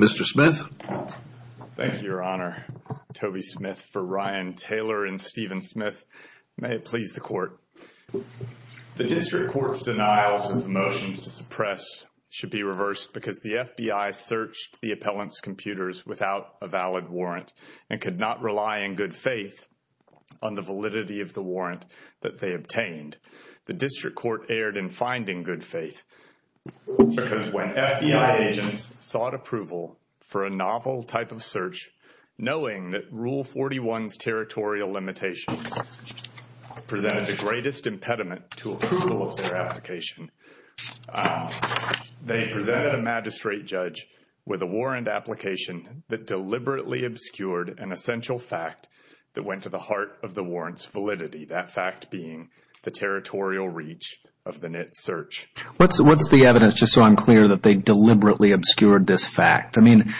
Mr. Smith, thank you, Your Honor. Toby Smith for Ryan Taylor and Steven Smith. May it please the Court. The District Court's denials of the motions to suppress should be reversed because the FBI searched the appellant's computers without a valid warrant and could not rely in good faith on the validity of the warrant that they obtained. The District Court erred in finding good faith because when FBI agents sought approval for a novel type of search knowing that Rule 41's territorial limitations presented the greatest impediment to approval of their application, they presented a magistrate judge with a warrant application that deliberately obscured an essential fact that went to the heart of the warrant's validity, that fact being the territorial reach of the NIT search. What's the evidence, just so I'm clear, that they deliberately obscured this fact? I mean,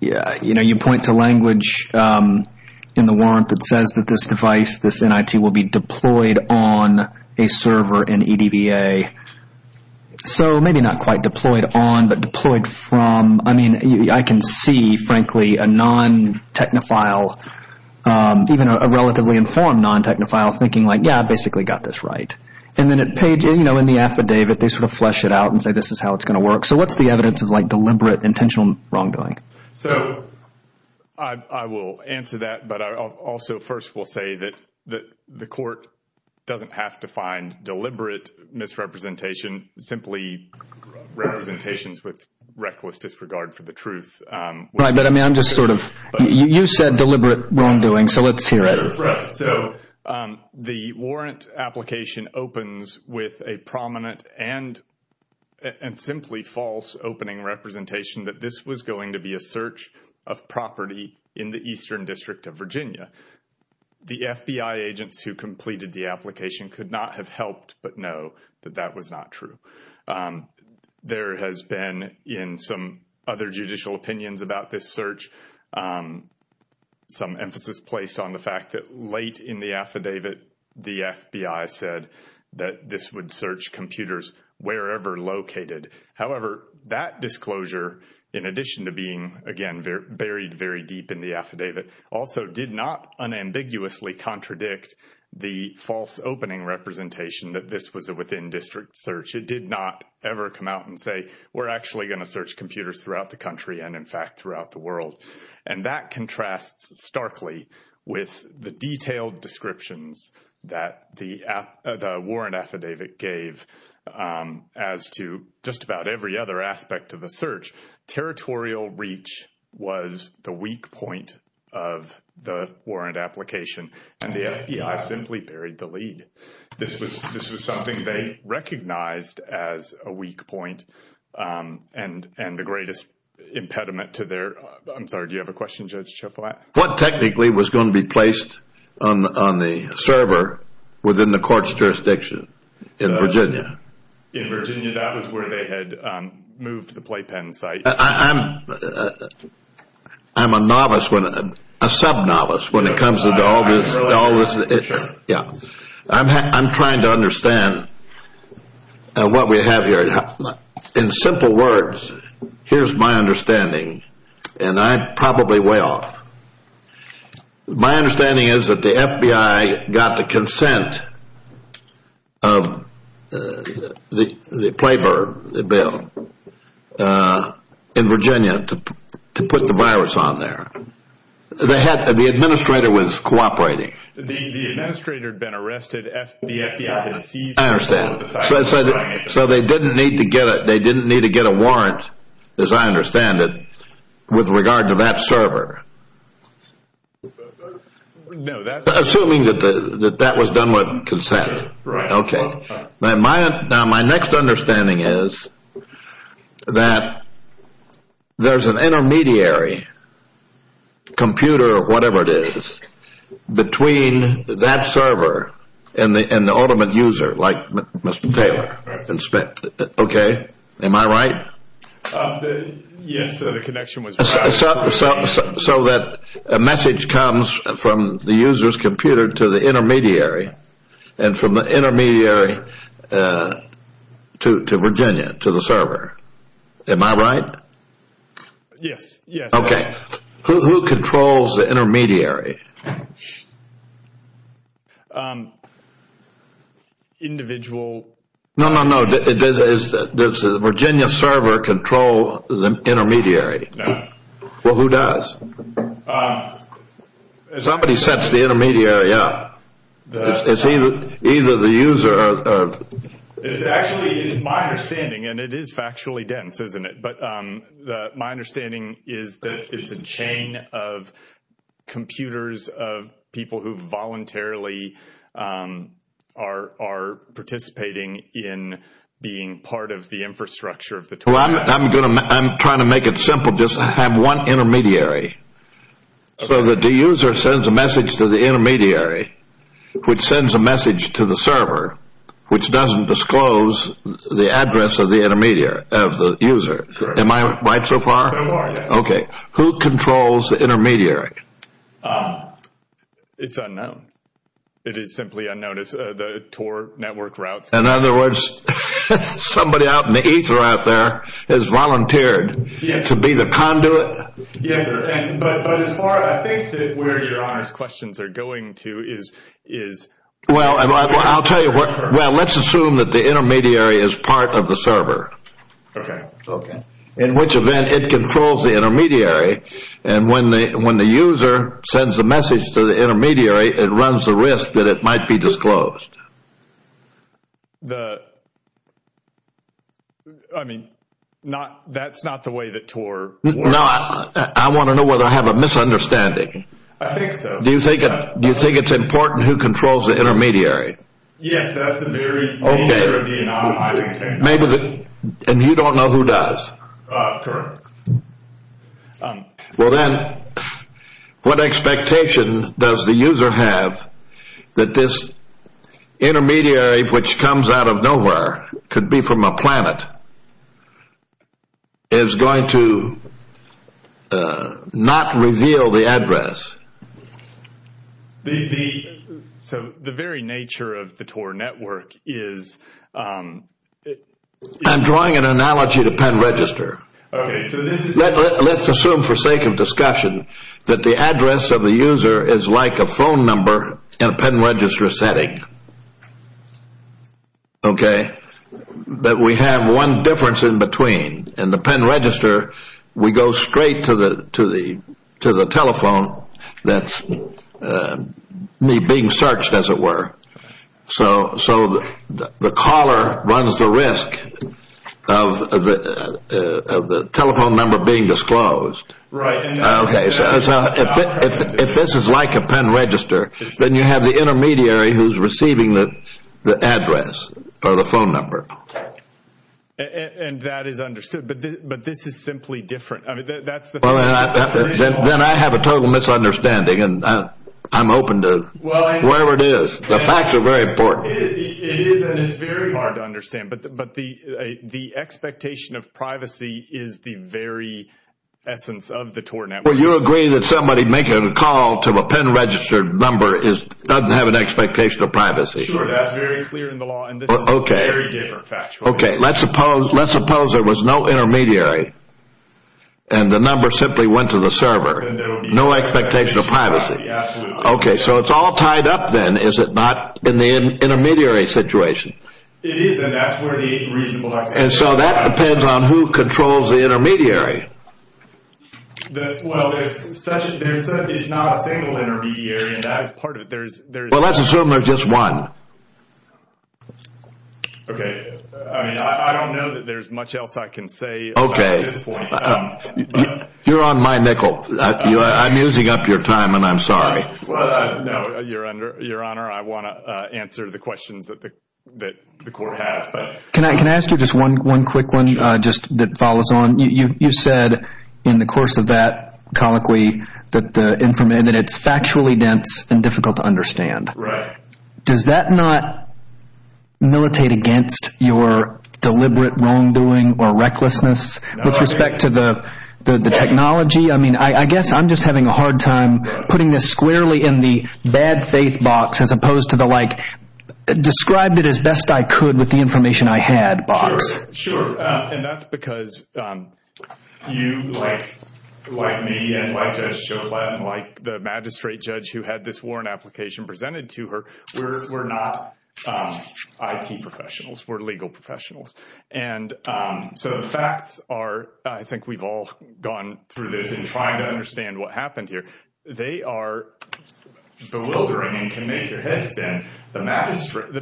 you know, you point to language in the warrant that says that this device, this NIT, will be deployed on a server in EDVA. So maybe not quite deployed on, but deployed from. I mean, I can see, frankly, a non-technophile, even a relatively informed non-technophile thinking like, yeah, I basically got this right. And then at page, you know, in the affidavit, they sort of flesh it out and say this is how it's going to work. So what's the evidence of, like, deliberate intentional wrongdoing? So I will answer that, but I also first will say that the Court doesn't have to find deliberate misrepresentation, simply representations with reckless disregard for the truth. Right, but I mean, I'm just sort of, you said deliberate wrongdoing, so let's hear it. Right, so the warrant application opens with a prominent and simply false opening representation that this was going to be a search of property in the Eastern District of Virginia. The FBI agents who completed the application could not have helped but know that that was not true. There has been, in some other judicial opinions about this search, some emphasis placed on the fact that late in the affidavit, the FBI said that this would search computers wherever located. However, that disclosure, in addition to being, again, buried very deep in the affidavit, also did not unambiguously contradict the false opening representation that this was a within-district search. It did not ever come out and say we're actually going to search computers throughout the country and, in fact, throughout the world. And that contrasts starkly with the detailed descriptions that the warrant affidavit gave as to just about every other aspect of the search. Territorial reach was the weak point of the warrant application, and the FBI simply buried the lead. This was something they recognized as a weak point and the greatest impediment to their, I'm sorry, do you have a question, Judge Schiff? What technically was going to be placed on the server within the In Virginia, that was where they had moved the playpen site. I'm a novice, a sub-novice when it comes to all this. I'm trying to understand what we have here. In simple words, here's my understanding, and I'm probably way off. My understanding is that the FBI got the consent of the playpen in Virginia to put the virus on there. The administrator was cooperating. The administrator had been arrested, the FBI had seized the site. I understand. So they didn't need to get a warrant, as I understand it, with regard to that server, assuming that that was done with consent. Now, my next understanding is that there's an intermediary, computer or whatever it is, between that server and the ultimate user, like Mr. Taylor. Am I right? Yes, the connection was bad. So that message comes from the user's computer to the intermediary and from the intermediary to Virginia, to the server. Am I right? Yes, yes. Okay. Who controls the intermediary? No, no, no. Does the Virginia server control the intermediary? No. Well, who does? Somebody sets the intermediary up. It's either the user or... It's actually, it's my understanding, and it is factually dense, isn't it? But my understanding is that it's a chain of computers of people who voluntarily are participating in being part of the infrastructure of the... Well, I'm trying to make it simple. Just have one intermediary. So the user sends a message to the intermediary, which sends a message to the server, which doesn't disclose the of the user. Am I right so far? So far, yes. Okay. Who controls the intermediary? It's unknown. It is simply unknown. It's the Tor network routes. In other words, somebody out in the ether out there has volunteered to be the conduit? Yes, sir. But as far as I think that where your honors questions are going to is... Well, I'll tell you what. Well, let's assume that the intermediary is part of the server. Okay. Okay. In which event, it controls the intermediary. And when the user sends a message to the intermediary, it runs the risk that it might be disclosed. The... I mean, that's not the way the Tor works. No, I want to know whether I have a misunderstanding. I think so. Do you think it's important who controls the intermediary? Yes, that's the very nature of the anonymizing technology. Maybe. And you don't know who does? Correct. Well, then what expectation does the user have that this intermediary, which comes out of nowhere, could be from a planet, is going to not reveal the address? The... So the very nature of the Tor network is... I'm drawing an analogy to pen register. Okay, so this is... Let's assume for sake of discussion that the address of the user is like a phone number in a pen register setting. Okay. But we have one difference in between. In the pen register, we go straight to the telephone that's being searched, as it were. So the caller runs the risk of the telephone number being disclosed. Right. Okay, so if this is like a pen register, then you have the intermediary who's receiving the address or the phone number. Okay. And that is understood. But this is simply different. I mean, that's the... Well, then I have a total misunderstanding, and I'm open to whatever it is. The facts are very important. It is, and it's very hard to understand. But the expectation of privacy is the very essence of the Tor network. Well, you agree that somebody making a call to a pen registered number doesn't have an expectation of privacy. Sure, that's very clear in the law. Okay. Okay. Let's suppose there was no intermediary, and the number simply went to the server. No expectation of privacy. Okay, so it's all tied up then, is it not, in the intermediary situation? It is, and that's where the reasonable... And so that depends on who controls the intermediary. Well, it's not a single intermediary, and that is part of it. Well, let's assume there's just one. Okay. I mean, I don't know that there's much else I can say. Okay. You're on my nickel. I'm using up your time, and I'm sorry. No, Your Honor, I want to answer the questions that the court has. Can I ask you just one quick one just that follows on? You said in the course of that that it's factually dense and difficult to understand. Right. Does that not militate against your deliberate wrongdoing or recklessness with respect to the technology? I mean, I guess I'm just having a hard time putting this squarely in the bad faith box as opposed to the like, described it as best I could with the information I had box. Sure. And that's because you, like me and like Judge Joflat and like the magistrate judge who had this warrant application presented to her, we're not IT professionals. We're legal professionals. And so the facts are, I think we've all gone through this in trying to understand what happened here. They are bewildering and can make your head spin. The magistrate.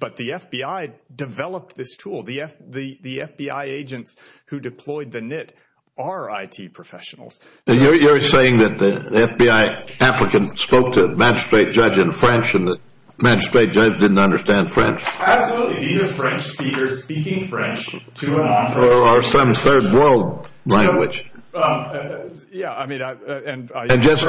But the FBI developed this tool. The FBI agents who deployed the NIT are IT professionals. You're saying that the FBI applicant spoke to the magistrate judge in French and the magistrate judge didn't understand French? Absolutely. These are French speakers speaking French to a non-French speaker. Or some third world language. Yeah, I mean, and it just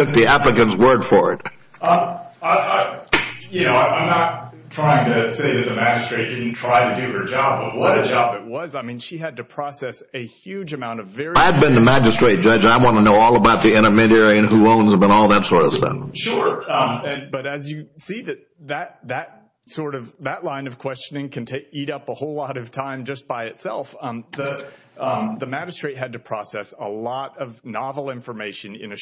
took the applicant's word for it. I, you know, I'm not trying to say that the magistrate didn't try to do her job, but what a job it was. I mean, she had to process a huge amount of very- I've been the magistrate judge. I want to know all about the intermediary and who owns them and all that sort of stuff. Sure. But as you see that, that sort of, that line of questioning can take, eat up a whole lot of time just by itself. The magistrate had to process a lot of information. And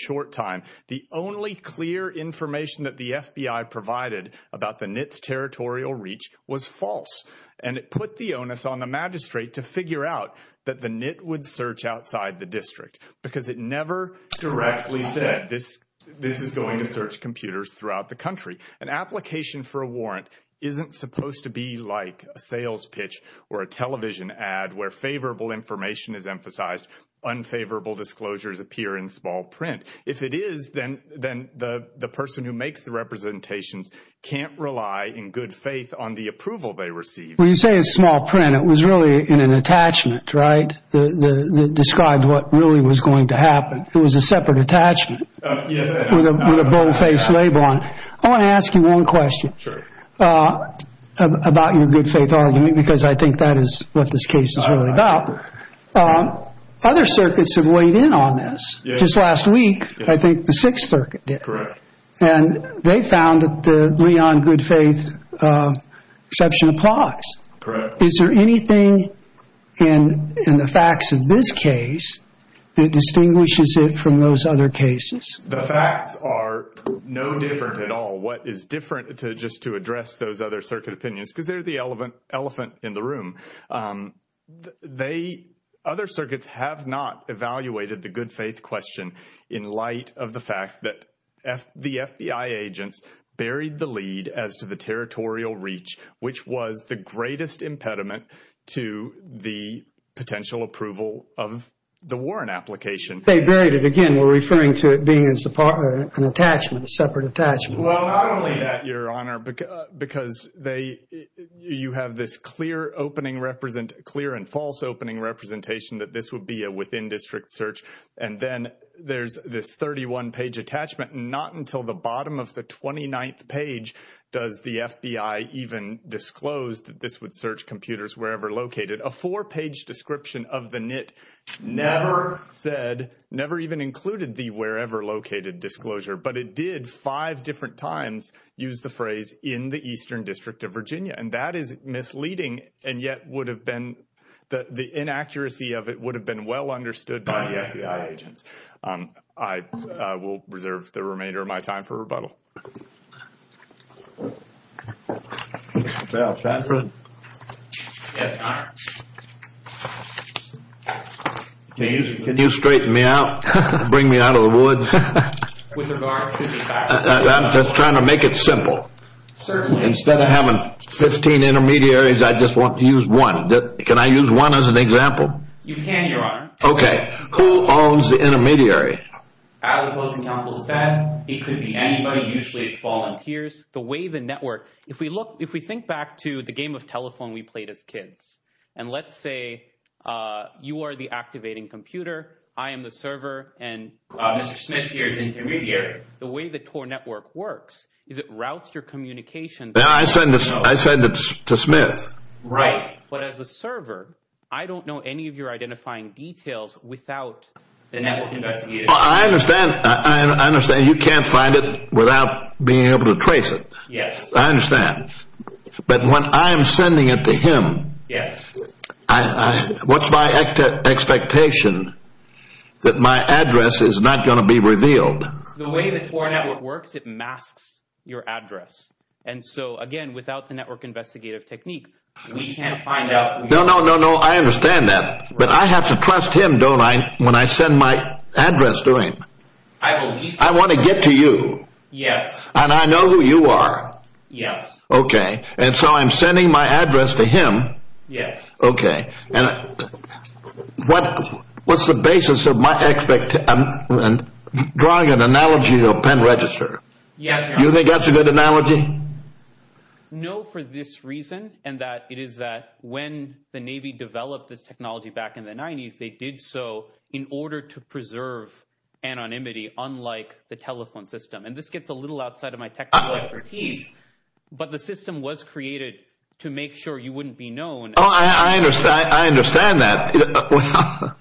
the clear information that the FBI provided about the NIT's territorial reach was false. And it put the onus on the magistrate to figure out that the NIT would search outside the district because it never directly said this, this is going to search computers throughout the country. An application for a warrant isn't supposed to be like a sales pitch or a television ad where favorable information is emphasized, unfavorable disclosures appear in small print. If it is, then the person who makes the representations can't rely in good faith on the approval they receive. When you say in small print, it was really in an attachment, right? That described what really was going to happen. It was a separate attachment with a boldface label on it. I want to ask you one question about your good faith argument, because I think that is what this case is really about. Other circuits have weighed in on this. Just last week, I think the Sixth Circuit did. And they found that the Leon good faith exception applies. Is there anything in the facts of this case that distinguishes it from those other cases? The facts are no different at all. What is different, just to address those other circuit opinions, because they're the elephant in the room. Other circuits have not evaluated the good faith question in light of the fact that the FBI agents buried the lead as to the territorial reach, which was the greatest impediment to the potential approval of the warrant application. They buried it. Again, we're referring to it being an attachment, a separate attachment. Well, not only that, Your Honor, because you have this clear opening clear and false opening representation that this would be a within-district search. And then there's this 31-page attachment. Not until the bottom of the 29th page does the FBI even disclose that this would search computers wherever located. A four-page description of the NIT never said, never even included the wherever located disclosure. But it did five different times use the phrase in the Eastern District of Virginia. And that is misleading and yet would have been the inaccuracy of it would have been well understood by the FBI agents. I will reserve the remainder of my time for rebuttal. Can you straighten me out? Bring me out of the woods? I'm just trying to make it simple. Instead of having 15 intermediaries, I just want to use one. Can I use one as an example? You can, Your Honor. Okay. Who owns the intermediary? As the Postal Council said, it could be anybody, usually it's volunteers. The way the network, if we look, if we think back to the game of telephone we played as kids, and let's say you are the activating computer, I am the server, and Mr. Smith here is the intermediary. The way the TOR network works is it routes your communication. Now I said this, I said this to Smith. Right. But as a server, I don't know any of your identifying details without the network investigators. I understand. I understand. You can't find it without being able to trace it. Yes. I understand. But when I'm sending it to him, what's my expectation that my address is not going to be revealed? The way the TOR network works, it masks your address. And so again, without the network investigative technique, we can't find out. No, no, no, no. I understand that. But I have to trust him, don't I, when I send my address to him. I believe so. I want to get to you. Yes. And I know who you are. Yes. Okay. And so I'm sending my address to him. Yes. Okay. And what's the basis of my expectation? I'm drawing an analogy to a pen register. Yes. Do you think that's a good analogy? No, for this reason, and that it is that when the Navy developed this technology back in the 90s, they did so in order to preserve anonymity, unlike the telephone system. And this gets a little outside of my technical expertise, but the system was created to make sure you wouldn't be known. Oh, I understand. I understand that.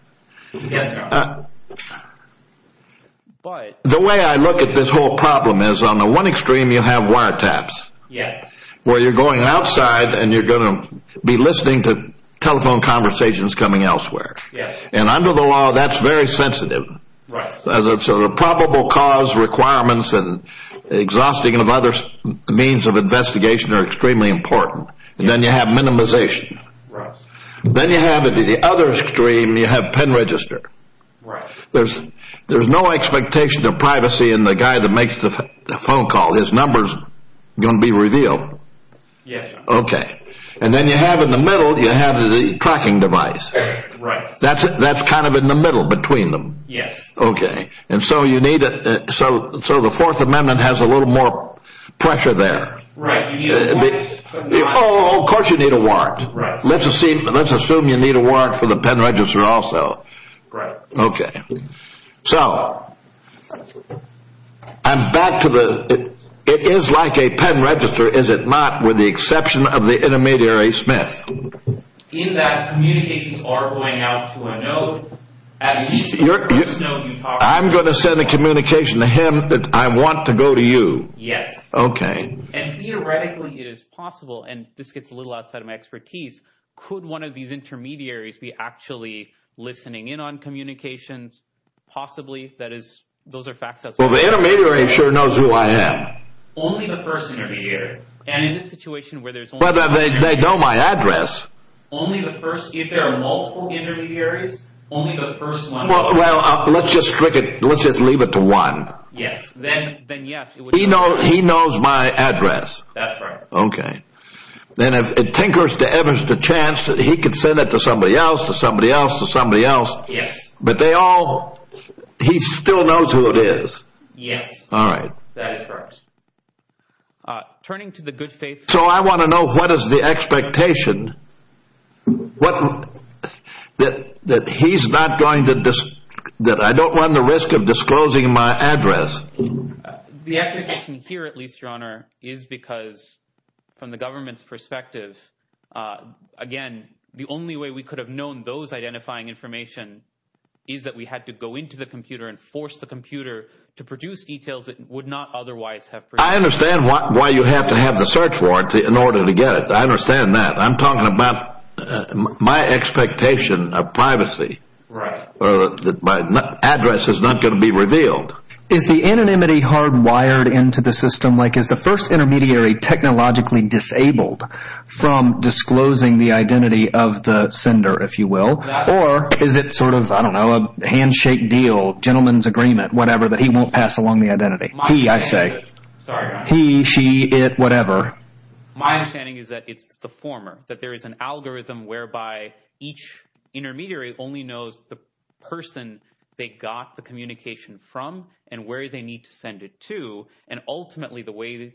But the way I look at this whole problem is on the one extreme, you have wiretaps. Yes. Where you're going outside and you're going to be listening to and under the law, that's very sensitive. Right. So the probable cause requirements and exhausting of other means of investigation are extremely important. And then you have minimization. Right. Then you have the other extreme, you have pen register. Right. There's no expectation of privacy in the guy that makes the phone call. His number's going to be revealed. Yes. Okay. And then you have in the middle, you have the tracking device. Right. That's it. That's kind of in the middle between them. Yes. Okay. And so you need it. So the Fourth Amendment has a little more pressure there. Right. Oh, of course you need a warrant. Right. Let's assume you need a warrant for the pen register also. Right. Okay. So I'm back to the it is like a pen register, is it not? With the exception of the intermediary Smith. In that communications are going out to a node. I'm going to send a communication to him that I want to go to you. Yes. Okay. And theoretically, it is possible. And this gets a little outside of my expertise. Could one of these intermediaries be actually listening in on communications? Possibly. That is, those are facts. Well, the intermediary sure knows who I am. Only the first intermediary. And in this situation where they know my address. Only the first. If there are multiple intermediaries, only the first one. Well, let's just leave it to one. Yes. Then yes. He knows my address. That's right. Okay. Then if it tinkers to Evans, the chance that he could send it to somebody else, to somebody else, to somebody else. Yes. But they all he still knows who it is. Yes. All right. That is correct. Turning to the good faith. So I want to know what is the expectation? What? That that he's not going to just that I don't want the risk of disclosing my address. The expectation here, at least your honor, is because from the government's perspective, again, the only way we could have known those identifying information is that we had to go into the computer and force the computer to produce details that would not otherwise have. I understand why you have to have the search warranty in order to get it. I understand that I'm talking about my expectation of privacy. Right. That my address is not going to be revealed. Is the anonymity hardwired into the system like is the first intermediary technologically disabled from disclosing the identity of the sender, if you will? Or is it sort of, I don't know, handshake deal, gentleman's agreement, whatever, that he won't pass along the identity? I say, he, she, it, whatever. My understanding is that it's the former, that there is an algorithm whereby each intermediary only knows the person they got the communication from and where they need to send it to. And ultimately, the way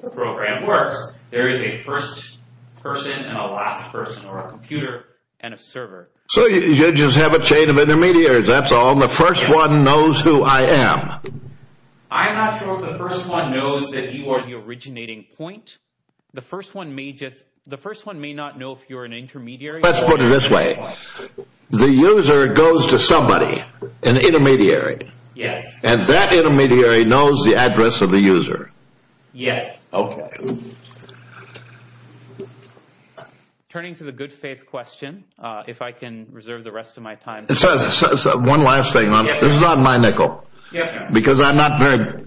the program works, there is a first person and a last person or a computer and a server. So you just have a chain of intermediaries. That's all. The first one knows who I am. I'm not sure if the first one knows that you are the originating point. The first one may just, the first one may not know if you're an intermediary. Let's put it this way. The user goes to somebody, an intermediary. Yes. And that intermediary knows the address of the question. If I can reserve the rest of my time. One last thing. This is on my nickel. Because I'm not very,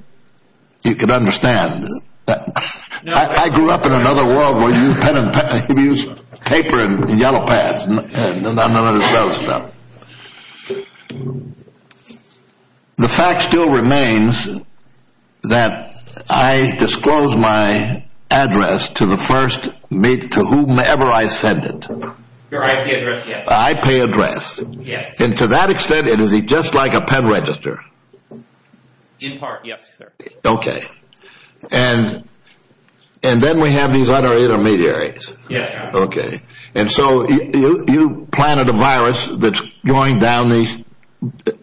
you can understand that. I grew up in another world where you use paper and yellow pads. The fact still remains that I disclosed my address to the first, to whomever I send it. Your IP address, yes. IP address. Yes. And to that extent, it is just like a pen register. In part, yes, sir. Okay. And then we have these other intermediaries. Yes. Okay. And so you planted a virus that's going down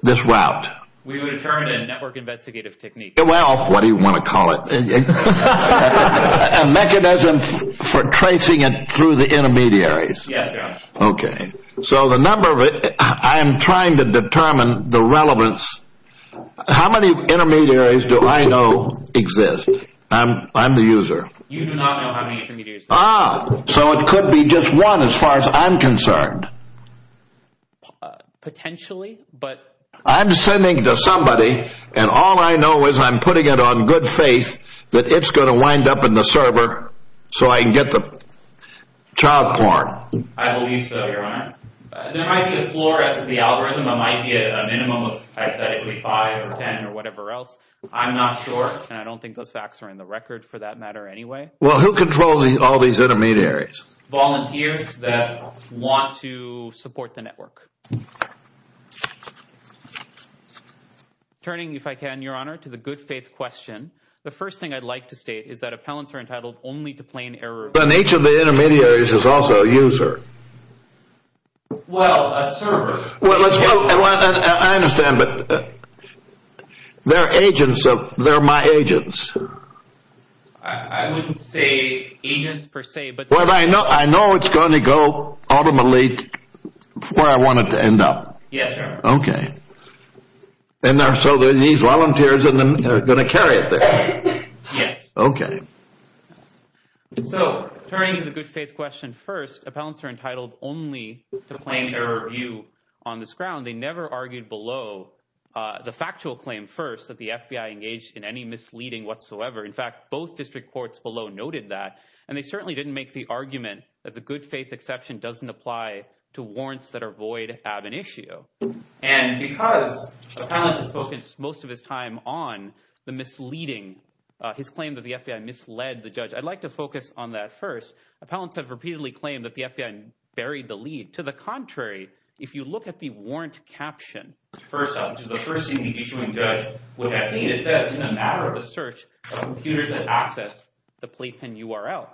this route. We would determine a network investigative technique. Well, what do you want to call it? A mechanism for tracing it through the intermediaries. Yes. Okay. So the number of it, I am trying to determine the relevance. How many intermediaries do I know exist? I'm the user. You do not know how many intermediaries. Ah, so it could be just one as far as I'm concerned. Potentially. But I'm sending to somebody and all I know is I'm putting it on good faith that it's going to wind up in the server so I can get the child porn. I believe so, Your Honor. There might be a floor as the algorithm. It might be a minimum of hypothetically five or ten or whatever else. I'm not sure. And I don't think those facts are in the record for that matter anyway. Well, who controls all these intermediaries? Volunteers that want to support the network. Turning, if I can, Your Honor, to the good faith question. The first thing I'd like to state is that appellants are entitled only to plain error. But each of the intermediaries is also a user. Well, a server. Well, I understand, but they're agents. They're my agents. I wouldn't say agents per se, but... Well, I know it's going to go ultimately where I want it to end up. Yes, Your Honor. Okay. And so these volunteers are going to carry it there. Yes. Okay. So, turning to the good faith question first, appellants are entitled only to plain error view on this ground. They never argued below the factual claim first that the FBI engaged in any misleading whatsoever. In fact, both district courts below noted that. And they certainly didn't make the argument that the good faith exception doesn't apply to warrants that are void of an issue. And because appellant has focused most of his time on the misleading, his claim that the FBI misled the judge, I'd like to focus on that first. Appellants have repeatedly claimed that the FBI buried the lead. To the contrary, if you look at the warrant caption, which is the first thing the issuing judge would have seen, it says, in a matter of a search, computers that access the playpen URL.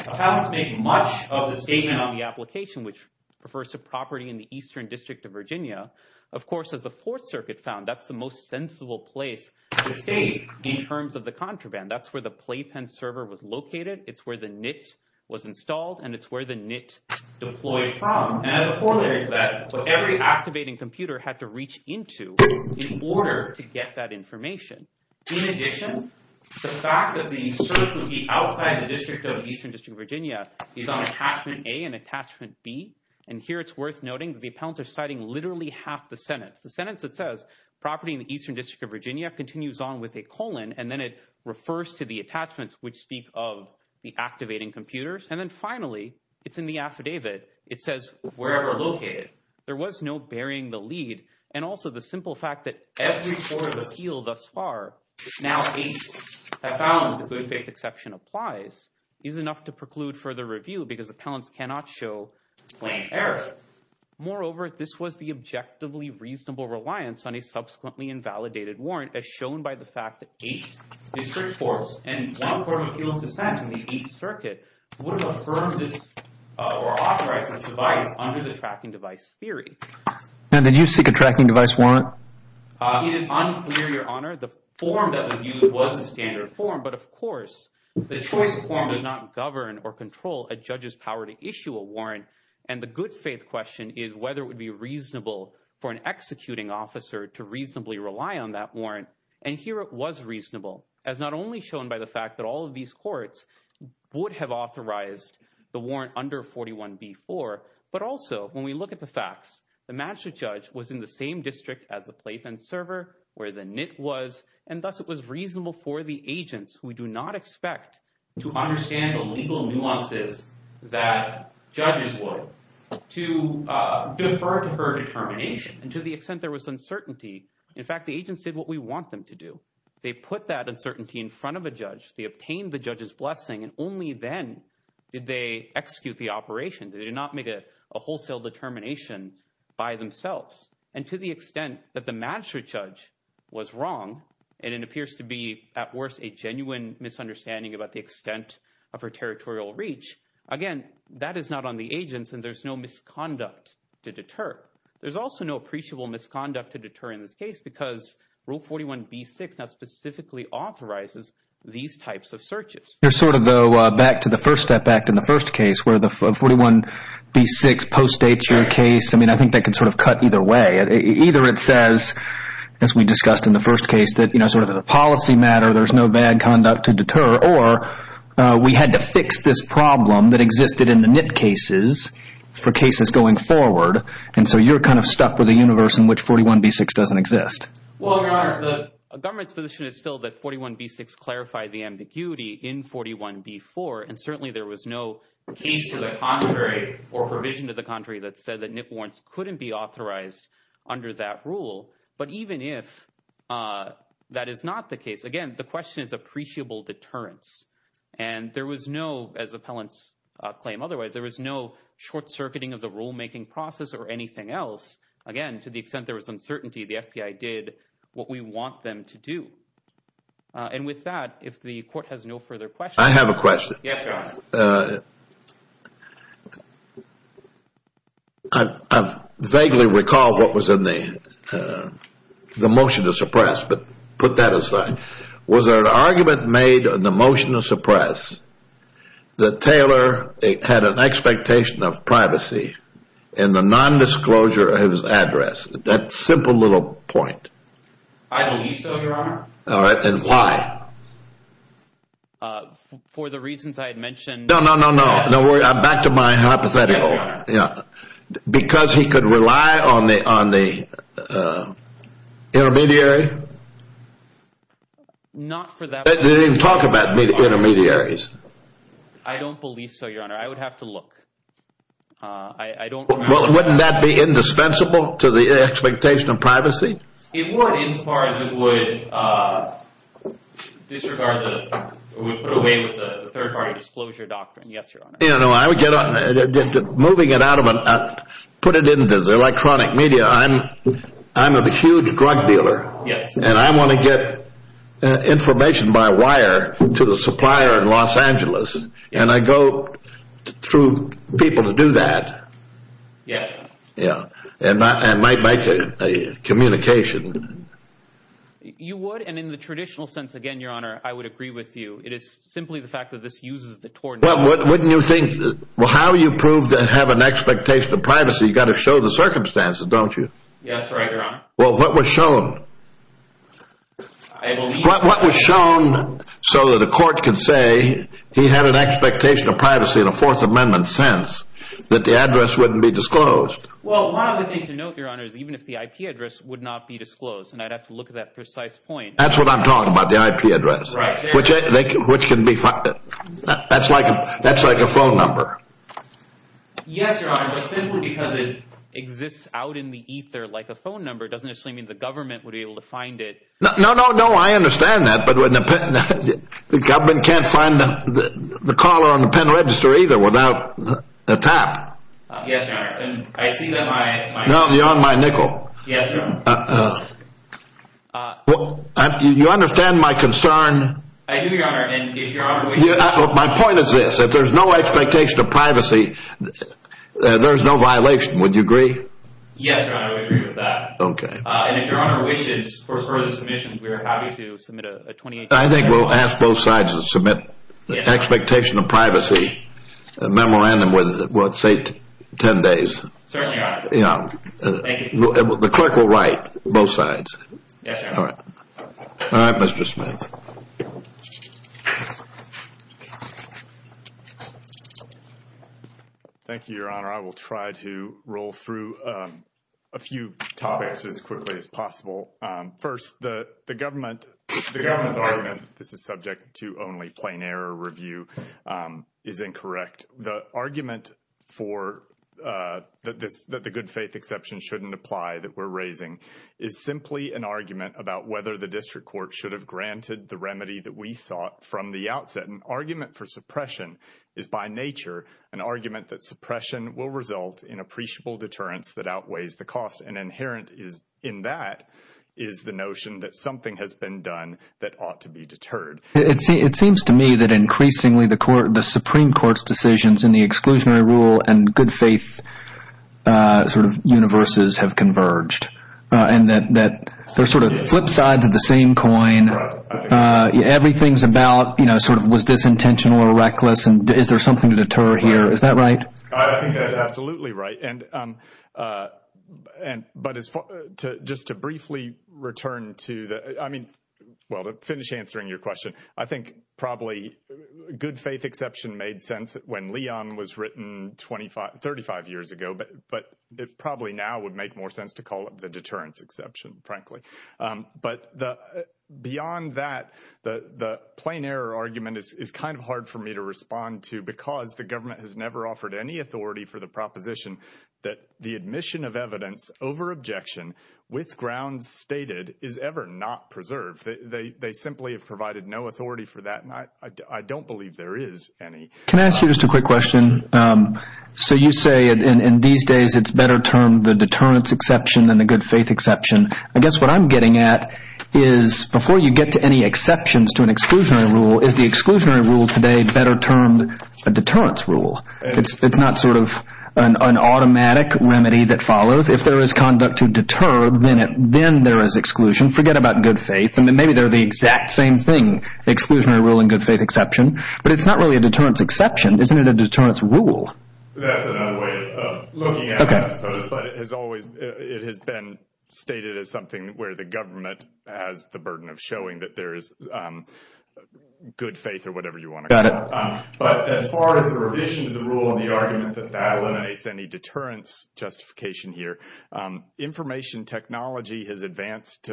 Appellants make much of the statement on the application, which refers to property in the Eastern District of Virginia. Of course, as the Fourth Circuit found, that's the most sensible place to state in terms of the contraband. That's where the playpen server was located. It's where the NIT was installed, and it's where the NIT deployed from. And as a corollary to that, what every activating computer had to reach into in order to get that information. In addition, the fact that the search would be outside the district of the Eastern District of Virginia is on attachment A and attachment B. And here it's worth noting that the appellants are citing literally half the sentence. The sentence that says property in the Eastern District of Virginia continues on with a colon, and then it refers to the attachments which speak of the activating computers. And then finally, it's in the affidavit. It says, wherever located, there was no burying the lead. And also the simple fact that every court of appeal thus far now states, I found the good faith exception applies, is enough to preclude further review because appellants cannot show plain error. Moreover, this was the objectively reasonable reliance on a subsequently invalidated warrant as shown by the fact that each district courts and one court of appeals dissent in the Eighth Circuit would have affirmed this or authorized this device under the tracking device theory. Now, did you seek a tracking device warrant? It is unclear, Your Honor. The form that was used was the standard form. But of course, the choice form does not govern or control a judge's power to issue a warrant. And the good faith question is whether it would be reasonable for an executing officer to reasonably rely on that warrant. And here it was reasonable as not only shown by the fact that all of these courts would have authorized the warrant under 41b-4, but also when we look at the facts, the magistrate judge was in the same district as the playpen server where the NIT was, and thus it was reasonable for the agents, who we do not expect to understand the legal nuances that judges would, to defer to her determination. And to the extent there was uncertainty, in fact, the agents did what we want them to do. They put that uncertainty in front of a judge. They obtained the judge's blessing, and only then did they execute the operation. They did not make a wholesale determination by themselves. And to the extent that the magistrate judge was wrong, and it appears to be, at worst, a genuine misunderstanding about the extent of her territorial reach, again, that is not on the agents, and there's no misconduct to deter. There's also no appreciable misconduct to deter in this case, because rule 41b-6 now specifically authorizes these types of acts. Back to the First Step Act in the first case, where 41b-6 postdates your case, I think that could cut either way. Either it says, as we discussed in the first case, that as a policy matter, there's no bad conduct to deter, or we had to fix this problem that existed in the NIT cases for cases going forward, and so you're stuck with a universe in which 41b-6 doesn't exist. Well, Your Honor, the government's position is still that 41b-6 clarified the ambiguity in 41b-4, and certainly there was no case to the contrary or provision to the contrary that said that NIT warrants couldn't be authorized under that rule. But even if that is not the case, again, the question is appreciable deterrence. And there was no, as appellants claim otherwise, there was no short-circuiting of the rulemaking process or anything else. Again, to the extent there was uncertainty, the FBI did what we want them to do. And with that, if the court has no further questions. I have a question. I vaguely recall what was in the motion to suppress, but put that aside. Was there an argument made in the motion to suppress that Taylor had an expectation of privacy in the non-disclosure of his address? That simple little point. I believe so, Your Honor. All right, and why? For the reasons I had mentioned. No, no, no, no. Back to my hypothetical. Because he could rely on the intermediary? Not for that. They didn't talk about intermediaries. I don't believe so, Your Honor. I would have to look. I don't. Well, wouldn't that be indispensable to the expectation of privacy? It would as far as it would disregard that it would put away with the third party disclosure doctrine. Yes, Your Honor. You know, I would get on moving it out of it, put it into the electronic media. I'm I'm a huge drug dealer. Yes. And I want to get information by wire to the supplier in Los Angeles. And I go through people to do that. Yeah. Yeah. And I might make a communication. You would. And in the traditional sense, again, Your Honor, I would agree with you. It is simply the fact that this uses the tort. Well, wouldn't you think? Well, how do you prove to have an expectation of privacy? You've got to show the circumstances, don't you? Yes, right, Your Honor. Well, what was shown? What was shown so that a court can say he had an expectation of privacy in a Fourth Amendment sense that the address wouldn't be disclosed? Well, one of the things to note, Your Honor, is even if the IP address would not be disclosed and I'd have to look at that precise point. That's what I'm talking about, the IP address, which which can be. That's like that's like a phone number. Yes, Your Honor. But simply because it exists out in the ether like a phone number doesn't actually mean the government would be able to find it. No, no, no. I understand that. But when the government can't find the caller on the pen register either without the tap. Yes, Your Honor. And I see that my. No, you're on my nickel. Yes, Your Honor. You understand my concern. I do, Your Honor. And if Your Honor wishes. My point is this. If there's no expectation of privacy, there's no violation. Would you agree? Yes, Your Honor, I agree with that. OK. And if Your Honor wishes for further submissions, we are happy to submit a 28 day memorandum. I think we'll ask both sides to submit the expectation of privacy memorandum with, let's say, 10 days. Certainly, Your Honor. You know, the clerk will write both sides. All right, Mr. Smith. Thank you, Your Honor. I will try to roll through a few topics as quickly as possible. First, the government, the government's argument. This is subject to only plain error. Review is incorrect. The argument for this, that the good faith exception shouldn't apply that we're raising is simply an argument about whether the district court should have granted the remedy that we sought from the outset. An argument for suppression is by nature an argument that suppression will result in appreciable deterrence that outweighs the cost. And inherent in that is the notion that something has been done that ought to be deterred. It seems to me that increasingly the Supreme Court's decisions in the exclusionary rule and good faith sort of universes have converged and that they're sort of flip sides of the same coin. I mean, everything's about, you know, sort of was this intentional or reckless? And is there something to deter here? Is that right? I think that's absolutely right. And, but as far, just to briefly return to the, I mean, well, to finish answering your question, I think probably good faith exception made sense when Leon was written 25, 35 years ago. But it probably now would make more sense to call it the deterrence exception, frankly. But beyond that, the plain error argument is kind of hard for me to respond to because the government has never offered any authority for the proposition that the admission of evidence over objection with grounds stated is ever not preserved. They simply have provided no authority for that. And I don't believe there is any. Can I ask you just a quick question? So you say in these days, it's better termed the deterrence exception than the good faith exception. I guess what I'm getting at is before you get to any exceptions to an exclusionary rule, is the exclusionary rule today better termed a deterrence rule? It's not sort of an automatic remedy that follows. If there is conduct to deter, then there is exclusion. Forget about good faith. And then maybe they're the exact same thing, exclusionary rule and good faith exception. But it's not really a deterrence exception. Isn't it a deterrence rule? That's another way of looking at it, I suppose. It has been stated as something where the government has the burden of showing that there is good faith or whatever you want to call it. But as far as the revision of the rule and the argument that that eliminates any deterrence justification here, information technology has advanced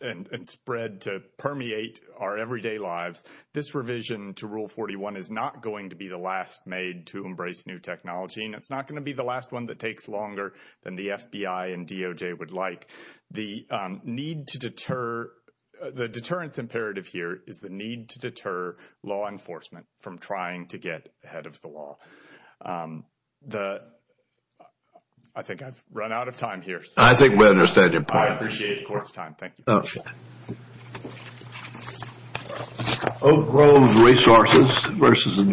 and spread to permeate our everyday lives. This revision to Rule 41 is not going to be the last made to embrace new technology. It's not going to be the last one that takes longer than the FBI and DOJ would like. The need to deter, the deterrence imperative here is the need to deter law enforcement from trying to get ahead of the law. I think I've run out of time here. I think we understand your point. I appreciate your time. Thank you. Oak Grove Resources versus.